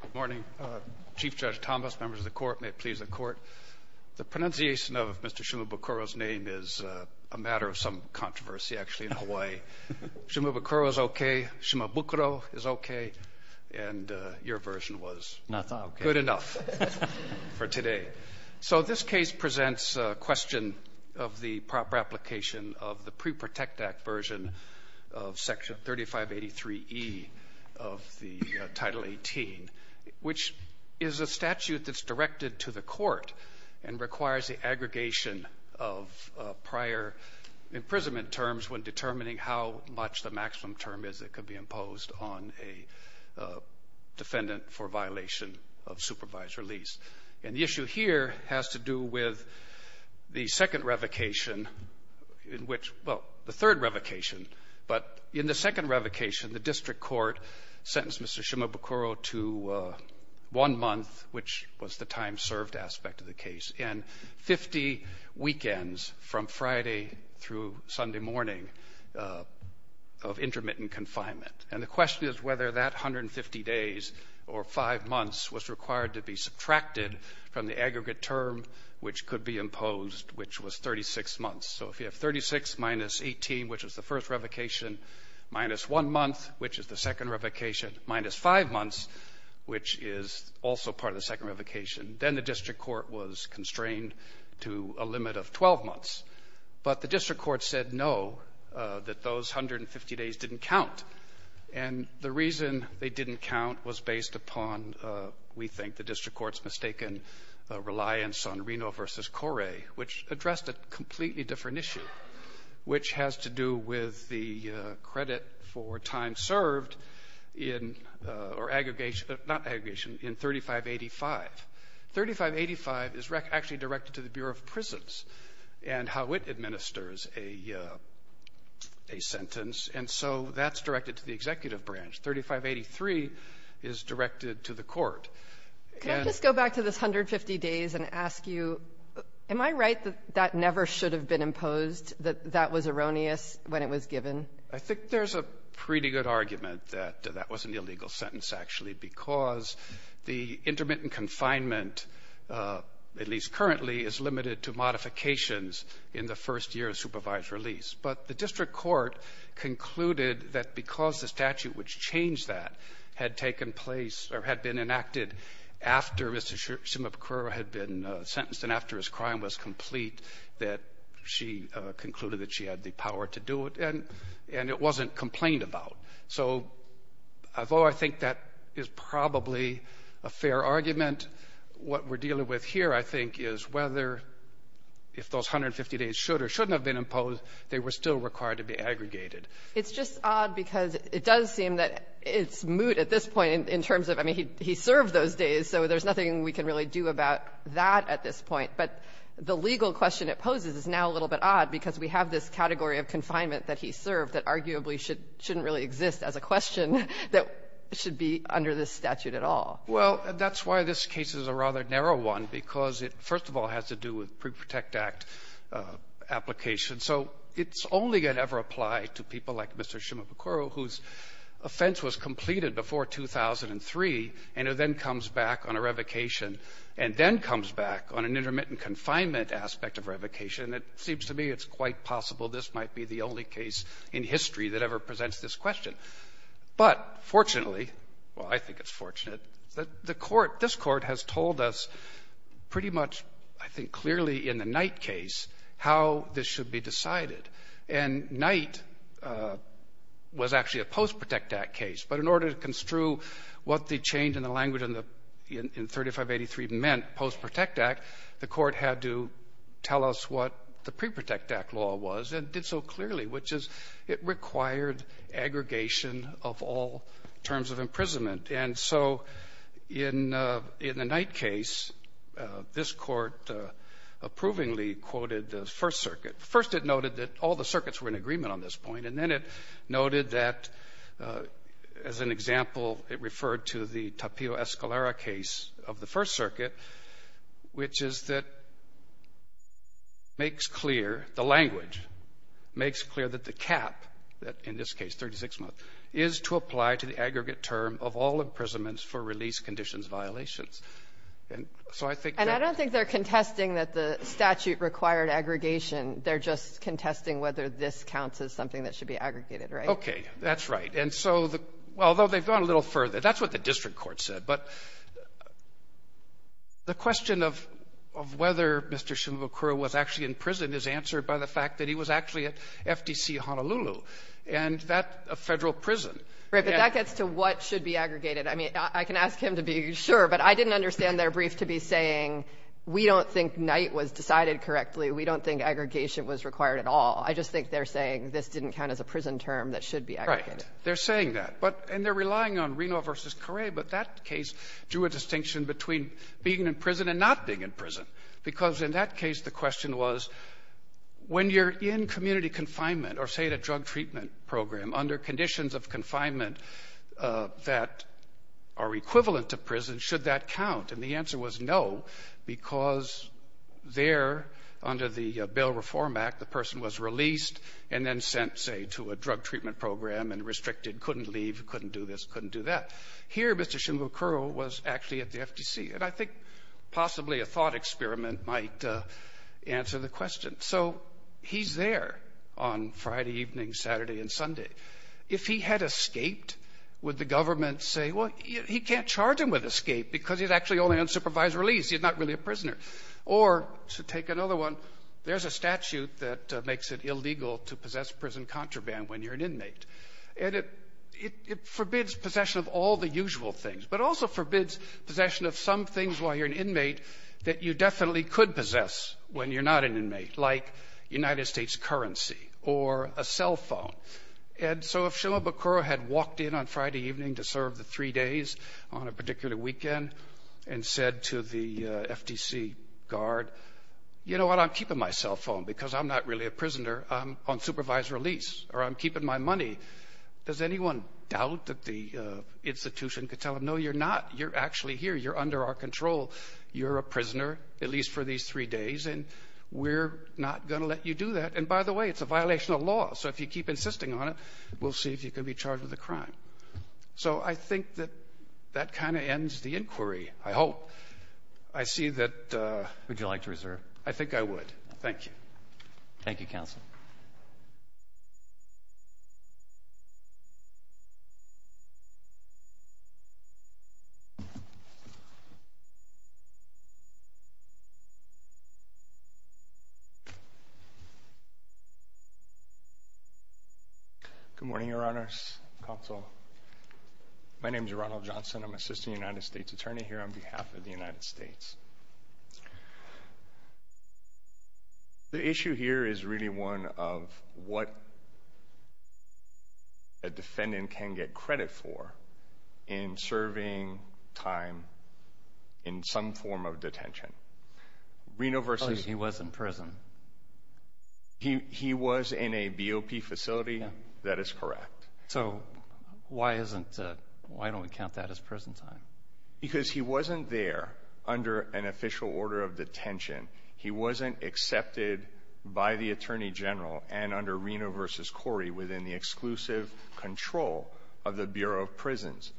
Good morning. Chief Judge Thomas, members of the court, may it please the court. The pronunciation of Mr. Shimabukuro's name is a matter of some controversy actually in Hawaii. Shimabukuro is okay, Shimabukuro is okay, and your version was good enough for today. So this case presents a question of the proper application of the Pre-Protect Act version of Section 3583E of the Title 18, which is a statute that's directed to the court and requires the aggregation of prior imprisonment terms when determining how much the maximum term is that could be imposed on a defendant for violation of supervised release. And the second revocation in which, well, the third revocation, but in the second revocation, the district court sentenced Mr. Shimabukuro to one month, which was the time-served aspect of the case, and 50 weekends from Friday through Sunday morning of intermittent confinement. And the question is whether that 150 days or five months was required to be subtracted from the aggregate term which could be imposed, which was 36 months. So if you have 36 minus 18, which was the first revocation, minus one month, which is the second revocation, minus five months, which is also part of the second revocation, then the district court was constrained to a limit of 12 months. But the district court said no, that those 150 days didn't count. And the reason they didn't count was based upon, we think, the district court's mistaken reliance on Reno v. Corre, which addressed a completely different issue, which has to do with the credit for time served in or aggregation, not aggregation, in 3585. 3585 is actually directed to the Bureau of Prisons and how it administers a sentence. And so that's directed to the executive branch. 3583 is directed to the court. And — Can I just go back to this 150 days and ask you, am I right that that never should have been imposed, that that was erroneous when it was given? I think there's a pretty good argument that that was an illegal sentence, actually, because the intermittent confinement, at least currently, is limited to modifications in the first year of supervised release. But the district court concluded that because the statute which changed that had taken place or had been enacted after Mr. Shimabukuro had been sentenced and after his crime was complete, that she concluded that she had the power to do it. And it wasn't complained about. So although I think that is probably a fair argument, what we're dealing with here, I think, is whether, if those 150 days should or shouldn't have been imposed, they were still required to be aggregated. It's just odd because it does seem that it's moot at this point in terms of, I mean, he served those days, so there's nothing we can really do about that at this point. But the legal question it poses is now a little bit odd because we have this category of confinement that he served that arguably shouldn't really exist as a question that should be under this statute at all. Well, that's why this case is a rather narrow one, because it, first of all, has to do with Pre-Protect Act application. So it's only going to ever apply to people like Mr. Shimabukuro, whose offense was completed before 2003, and it then comes back on a revocation, and then comes back on an intermittent confinement aspect of revocation. It seems to me it's quite possible this might be the only case in history that ever presents this question. But fortunately, well, I think it's fortunate, that the Court, this Court has told us pretty much, I think, clearly in the Knight case how this should be decided. And Knight was actually a post-Protect Act case. But in order to construe what the change in the language in 3583 meant, post-Protect Act, the Court had to tell us what the Pre-Protect Act law was and what it did so clearly, which is it required aggregation of all terms of imprisonment. And so in the Knight case, this Court approvingly quoted the First Circuit. First, it noted that all the circuits were in agreement on this point, and then it noted that, as an example, it referred to the Tapio-Escalera case of the First Circuit, which makes clear that the cap, in this case 36 months, is to apply to the aggregate term of all imprisonments for release conditions violations. And so I think that they're going to be able to do that, and I don't think they're contesting that the statute required aggregation. They're just contesting whether this counts as something that should be aggregated, right? Okay. That's right. And so although they've gone a little further, that's what the district court said. But the question of whether Mr. Shimabukuro was actually in prison is answered by the fact that he was actually at FTC Honolulu, and that's a Federal prison. Right. But that gets to what should be aggregated. I mean, I can ask him to be sure, but I didn't understand their brief to be saying we don't think Knight was decided correctly, we don't think aggregation was required at all. I just think they're saying this didn't count as a prison term that should be aggregated. Right. They're saying that. But they're relying on Reno v. Correa, but that case drew a distinction between being in prison and not being in prison, because in that case, the question was, when you're in community confinement or, say, at a drug treatment program, under conditions of confinement that are equivalent to prison, should that count? And the answer was no, because there, under the Bail Reform Act, the person was released and then sent, say, to a drug treatment program and restricted, couldn't leave, couldn't do this, couldn't do that. Here, Mr. Shimabukuro was actually at the FTC, and I think possibly a thought experiment might answer the question. So he's there on Friday evening, Saturday, and Sunday. If he had escaped, would the government say, well, he can't charge him with escape because he's actually only on supervised release, he's not really a prisoner? Or, to take another one, there's a statute that makes it illegal to possess prison contraband when you're an inmate. And it forbids possession of all the usual things, but it also forbids possession of some things while you're an inmate that you definitely could possess when you're not an inmate, like United States currency or a cell phone. And so if Shimabukuro had walked in on Friday evening to serve the three days on a particular weekend and said to the FTC guard, you know what, I'm keeping my cell phone because I'm not really a prisoner, I'm on supervised release, or I'm keeping my money. Does anyone doubt that the institution could tell him, no, you're not, you're actually here, you're under our control, you're a prisoner, at least for these three days, and we're not going to let you do that. And by the way, it's a violation of law, so if you keep insisting on it, we'll see if you can be charged with a crime. So I think that that kind of ends the inquiry, I hope. I see that- Would you like to reserve? I think I would. Thank you. Thank you, counsel. Good morning, your honors, counsel. My name is Ronald Johnson. I'm an assistant United States attorney here on behalf of the United States. The issue here is really one of what a defendant can get credit for in serving time in some form of detention. Reno versus- He was in prison. He was in a BOP facility, that is correct. So why don't we count that as prison time? Because he wasn't there under an official order of detention. He wasn't accepted by the attorney general and under Reno versus Corey within the exclusive control of the Bureau of Prisons.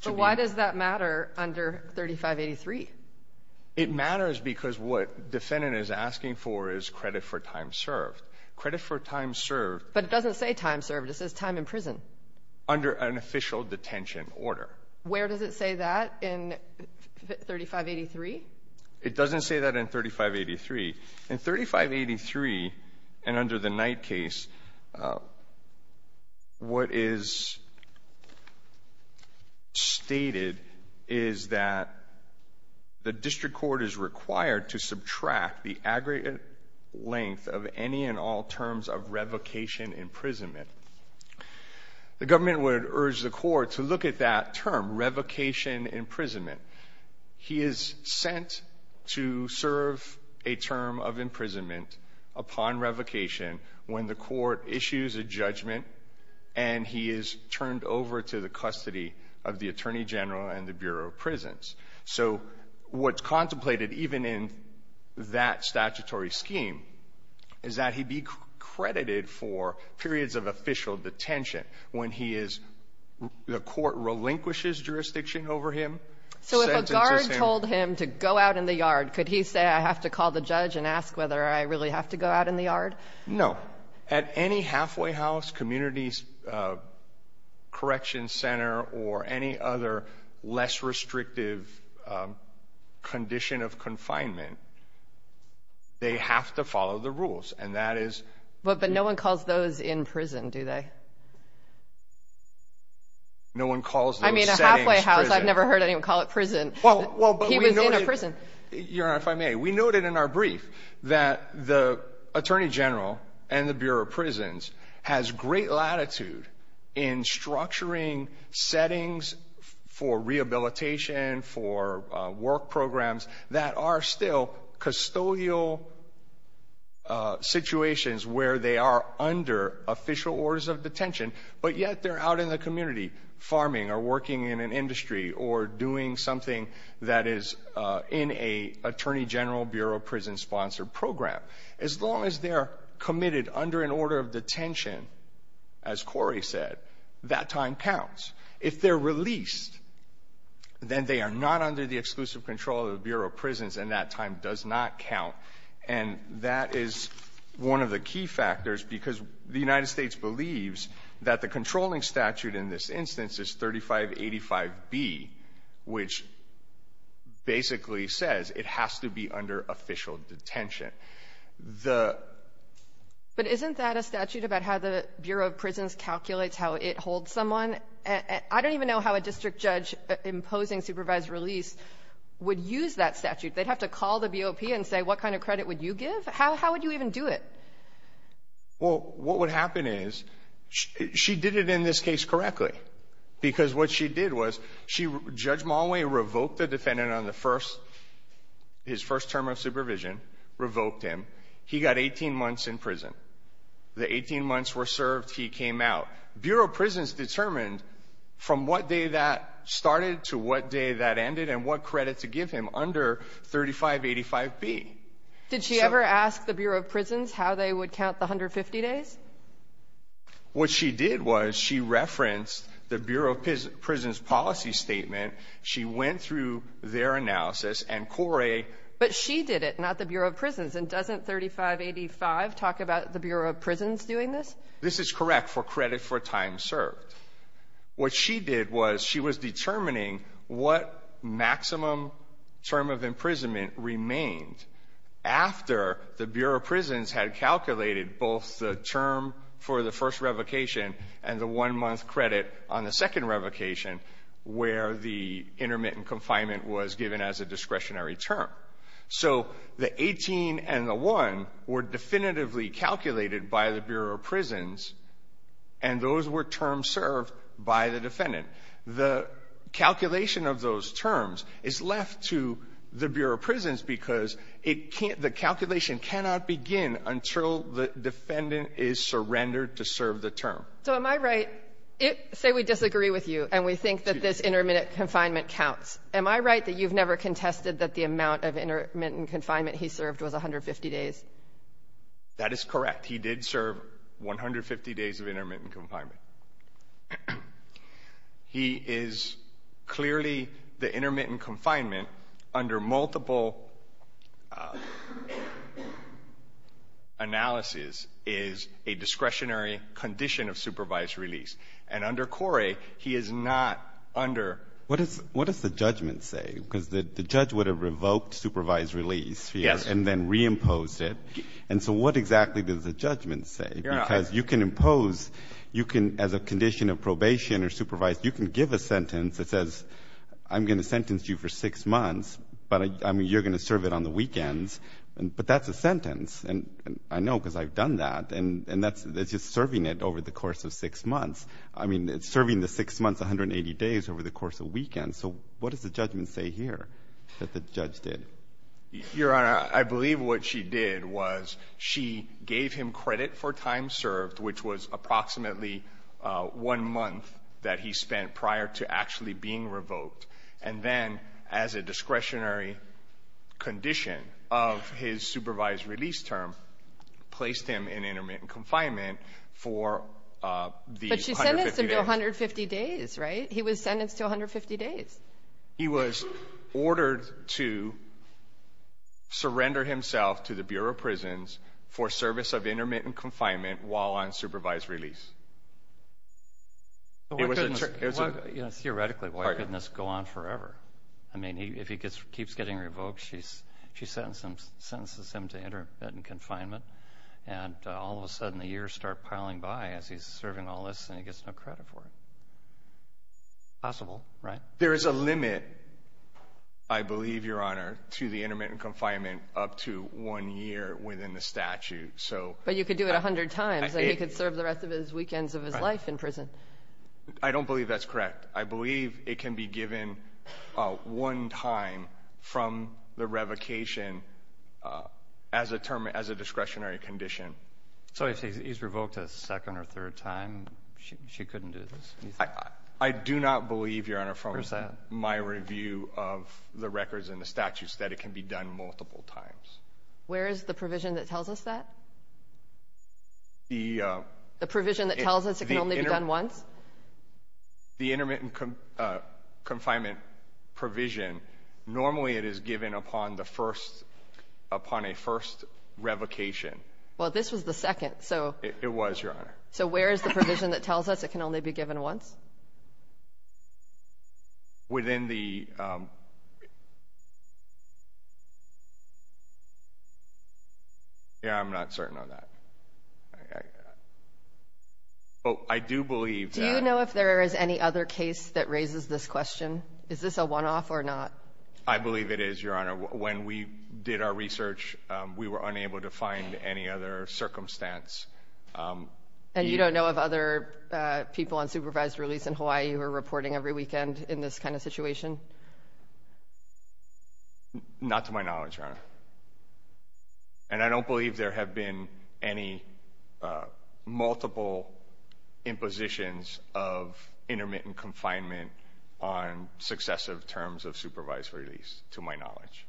So why does that matter under 3583? It matters because what defendant is asking for is credit for time served. Credit for time served- But it doesn't say time served. It says time in prison. Under an official detention order. Where does it say that in 3583? It doesn't say that in 3583. In 3583 and under the Knight case, what is stated is that the district court is required to subtract the aggregate length of any and all terms of revocation imprisonment. The government would urge the court to look at that term, revocation imprisonment. He is sent to serve a term of imprisonment upon revocation when the court issues a judgment and he is turned over to the custody of the attorney general and the Bureau of Prisons. So what's contemplated even in that statutory scheme is that he be credited for periods of official detention when he is the court relinquishes jurisdiction over him. So if a guard told him to go out in the yard, could he say, I have to call the judge and ask whether I really have to go out in the yard? No. At any halfway house, community correction center, or any other less restrictive condition of confinement, they have to follow the rules. And that is- But no one calls those in prison, do they? No one calls those settings prison. I mean, a halfway house, I've never heard anyone call it prison. Well, but we know- He was in a prison. Your Honor, if I may, we noted in our brief that the attorney general and the Bureau of Prisons has great latitude in structuring settings for rehabilitation, for work programs that are still custodial situations where they are under official orders of detention, but yet they're out in the community farming or working in an industry or doing something that is in a attorney general Bureau of Prisons sponsored program. As long as they're committed under an order of detention, as Corey said, that time counts. If they're released, then they are not under the exclusive control of the Bureau of Prisons, and that time does not count. And that is one of the key factors, because the United States believes that the controlling statute in this instance is 3585B, which basically says it has to be under official detention. The- But isn't that a statute about how the Bureau of Prisons calculates how it holds someone? I don't even know how a district judge imposing supervised release would use that statute. They'd have to call the BOP and say, what kind of credit would you give? How would you even do it? Well, what would happen is she did it in this case correctly, because what she did was she- Judge Mollway revoked the defendant on the first- his first term of supervision, revoked him. He got 18 months in prison. The 18 months were served, he came out. Bureau of Prisons determined from what day that started to what day that ended and what credit to give him under 3585B. Did she ever ask the Bureau of Prisons how they would count the 150 days? What she did was she referenced the Bureau of Prisons' policy statement. She went through their analysis, and Corey- But she did it, not the Bureau of Prisons. And doesn't 3585 talk about the Bureau of Prisons doing this? This is correct for credit for time served. What she did was she was determining what maximum term of imprisonment remained after the Bureau of Prisons had calculated both the term for the first revocation and the one-month credit on the second revocation where the intermittent confinement was given as a discretionary term. So the 18 and the 1 were definitively calculated by the Bureau of Prisons, and those were terms served by the defendant. The calculation of those terms is left to the Bureau of Prisons because it can't the calculation cannot begin until the defendant is surrendered to serve the term. So am I right, say we disagree with you and we think that this intermittent confinement counts. Am I right that you've never contested that the amount of intermittent confinement he served was 150 days? That is correct. He did serve 150 days of intermittent confinement. He is clearly the intermittent confinement under multiple analysis is a discretionary condition of supervised release. And under Corey, he is not under the- What does the judgment say? Because the judge would have revoked supervised release and then reimposed it. And so what exactly does the judgment say? Because you can impose, you can, as a condition of probation or supervised, you can give a sentence that says I'm going to sentence you for 6 months, but I mean, you're going to serve it on the weekends. But that's a sentence. And I know because I've done that. And that's just serving it over the course of 6 months. I mean, it's serving the 6 months, 180 days over the course of weekends. So what does the judgment say here that the judge did? Your Honor, I believe what she did was she gave him credit for time served, which was approximately one month that he spent prior to actually being revoked. And then as a discretionary condition of his supervised release term, placed him in intermittent confinement for the 150 days. But she sentenced him to 150 days, right? He was sentenced to 150 days. He was ordered to surrender himself to the Bureau of Prisons for service of intermittent confinement while on supervised release. Theoretically, why couldn't this go on forever? I mean, if he keeps getting revoked, she sentences him to intermittent confinement. And all of a sudden, the years start piling by as he's serving all this and he gets no credit for it. Possible, right? There is a limit, I believe, Your Honor, to the intermittent confinement up to one year within the statute, so. But you could do it 100 times, and he could serve the rest of his weekends of his life in prison. I don't believe that's correct. I believe it can be given one time from the revocation as a discretionary condition. So if he's revoked a second or third time, she couldn't do this? I do not believe, Your Honor, from my review of the records and the statutes, that it can be done multiple times. Where is the provision that tells us that? The- The provision that tells us it can only be done once? The intermittent confinement provision, normally it is given upon the first, upon a first revocation. Well, this was the second, so- It was, Your Honor. So where is the provision that tells us it can only be given once? Within the, Yeah, I'm not certain on that. I do believe that- Do you know if there is any other case that raises this question? Is this a one-off or not? I believe it is, Your Honor. When we did our research, we were unable to find any other circumstance. And you don't know of other people on supervised release in Hawaii who are reporting every weekend in this kind of situation? Not to my knowledge, Your Honor. And I don't believe there have been any multiple impositions of intermittent confinement on successive terms of supervised release, to my knowledge.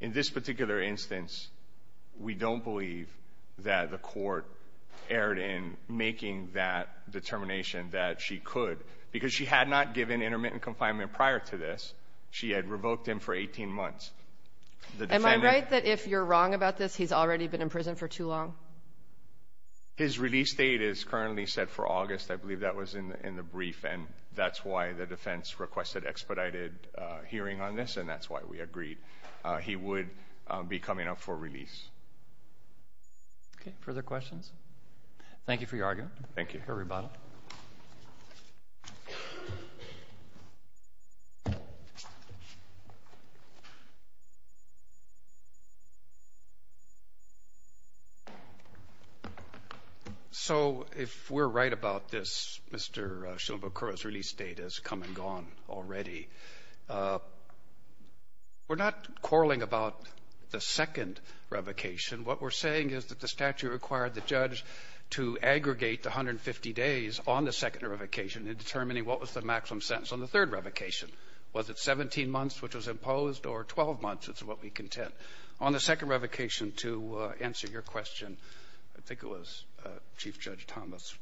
In this particular instance, we don't believe that the court erred in making that determination that she could. Because she had not given intermittent confinement prior to this. She had revoked him for 18 months. The defendant- Am I right that if you're wrong about this, he's already been in prison for too long? His release date is currently set for August. I believe that was in the brief. And that's why the defense requested expedited hearing on this. And that's why we agreed he would be coming up for release. Okay, further questions? Thank you for your argument. Thank you. For your rebuttal. So, if we're right about this, Mr. Shimabukuro's release date has come and gone already. We're not quarreling about the second revocation. What we're saying is that the statute required the judge to aggregate the 150 days on the second revocation in determining what was the maximum sentence. On the third revocation, was it 17 months, which was imposed, or 12 months? It's what we contend. On the second revocation, to answer your question, I think it was Chief Judge Thomas.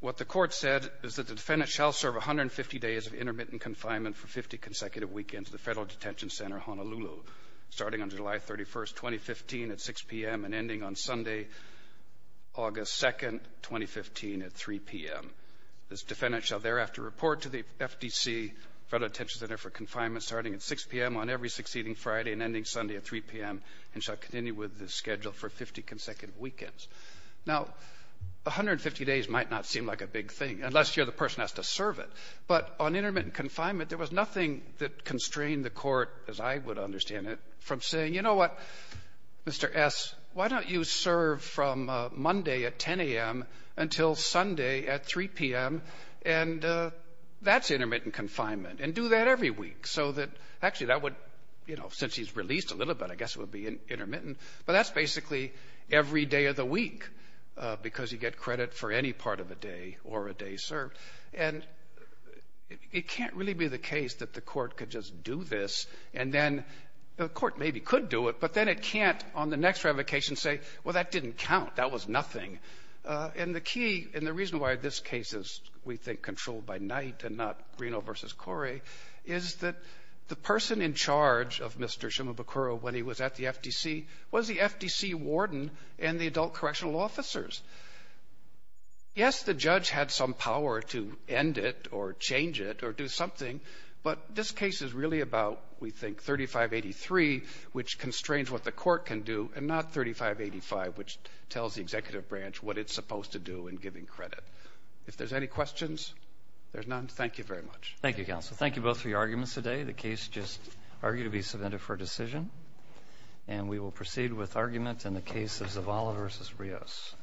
What the court said is that the defendant shall serve 150 days of intermittent confinement for 50 consecutive weekends at the Federal Detention Center, Honolulu, starting on July 31st, 2015, at 6 PM, and ending on Sunday, August 2nd, 2015, at 3 PM. This defendant shall thereafter report to the FDC, Federal Detention Center for Friday, and ending Sunday at 3 PM, and shall continue with the schedule for 50 consecutive weekends. Now, 150 days might not seem like a big thing, unless you're the person that has to serve it. But on intermittent confinement, there was nothing that constrained the court, as I would understand it, from saying, you know what, Mr. S, why don't you serve from Monday at 10 AM until Sunday at 3 PM, and that's intermittent confinement, and do that every week. Actually, since he's released a little bit, I guess it would be intermittent. But that's basically every day of the week, because you get credit for any part of a day or a day served. And it can't really be the case that the court could just do this, and then the court maybe could do it, but then it can't, on the next revocation, say, well, that didn't count. That was nothing. And the key, and the reason why this case is, we think, controlled by night, and not Reno versus Corey, is that the person in charge of Mr. Shimabukuro when he was at the FDC was the FDC warden and the adult correctional officers. Yes, the judge had some power to end it, or change it, or do something, but this case is really about, we think, 3583, which constrains what the court can do, and not 3585, which tells the executive branch what it's supposed to do in giving credit. If there's any questions, there's none. Thank you very much. Thank you, counsel. Thank you both for your arguments today. The case just arguably submitted for decision, and we will proceed with argument in the case of Zavala versus Rios.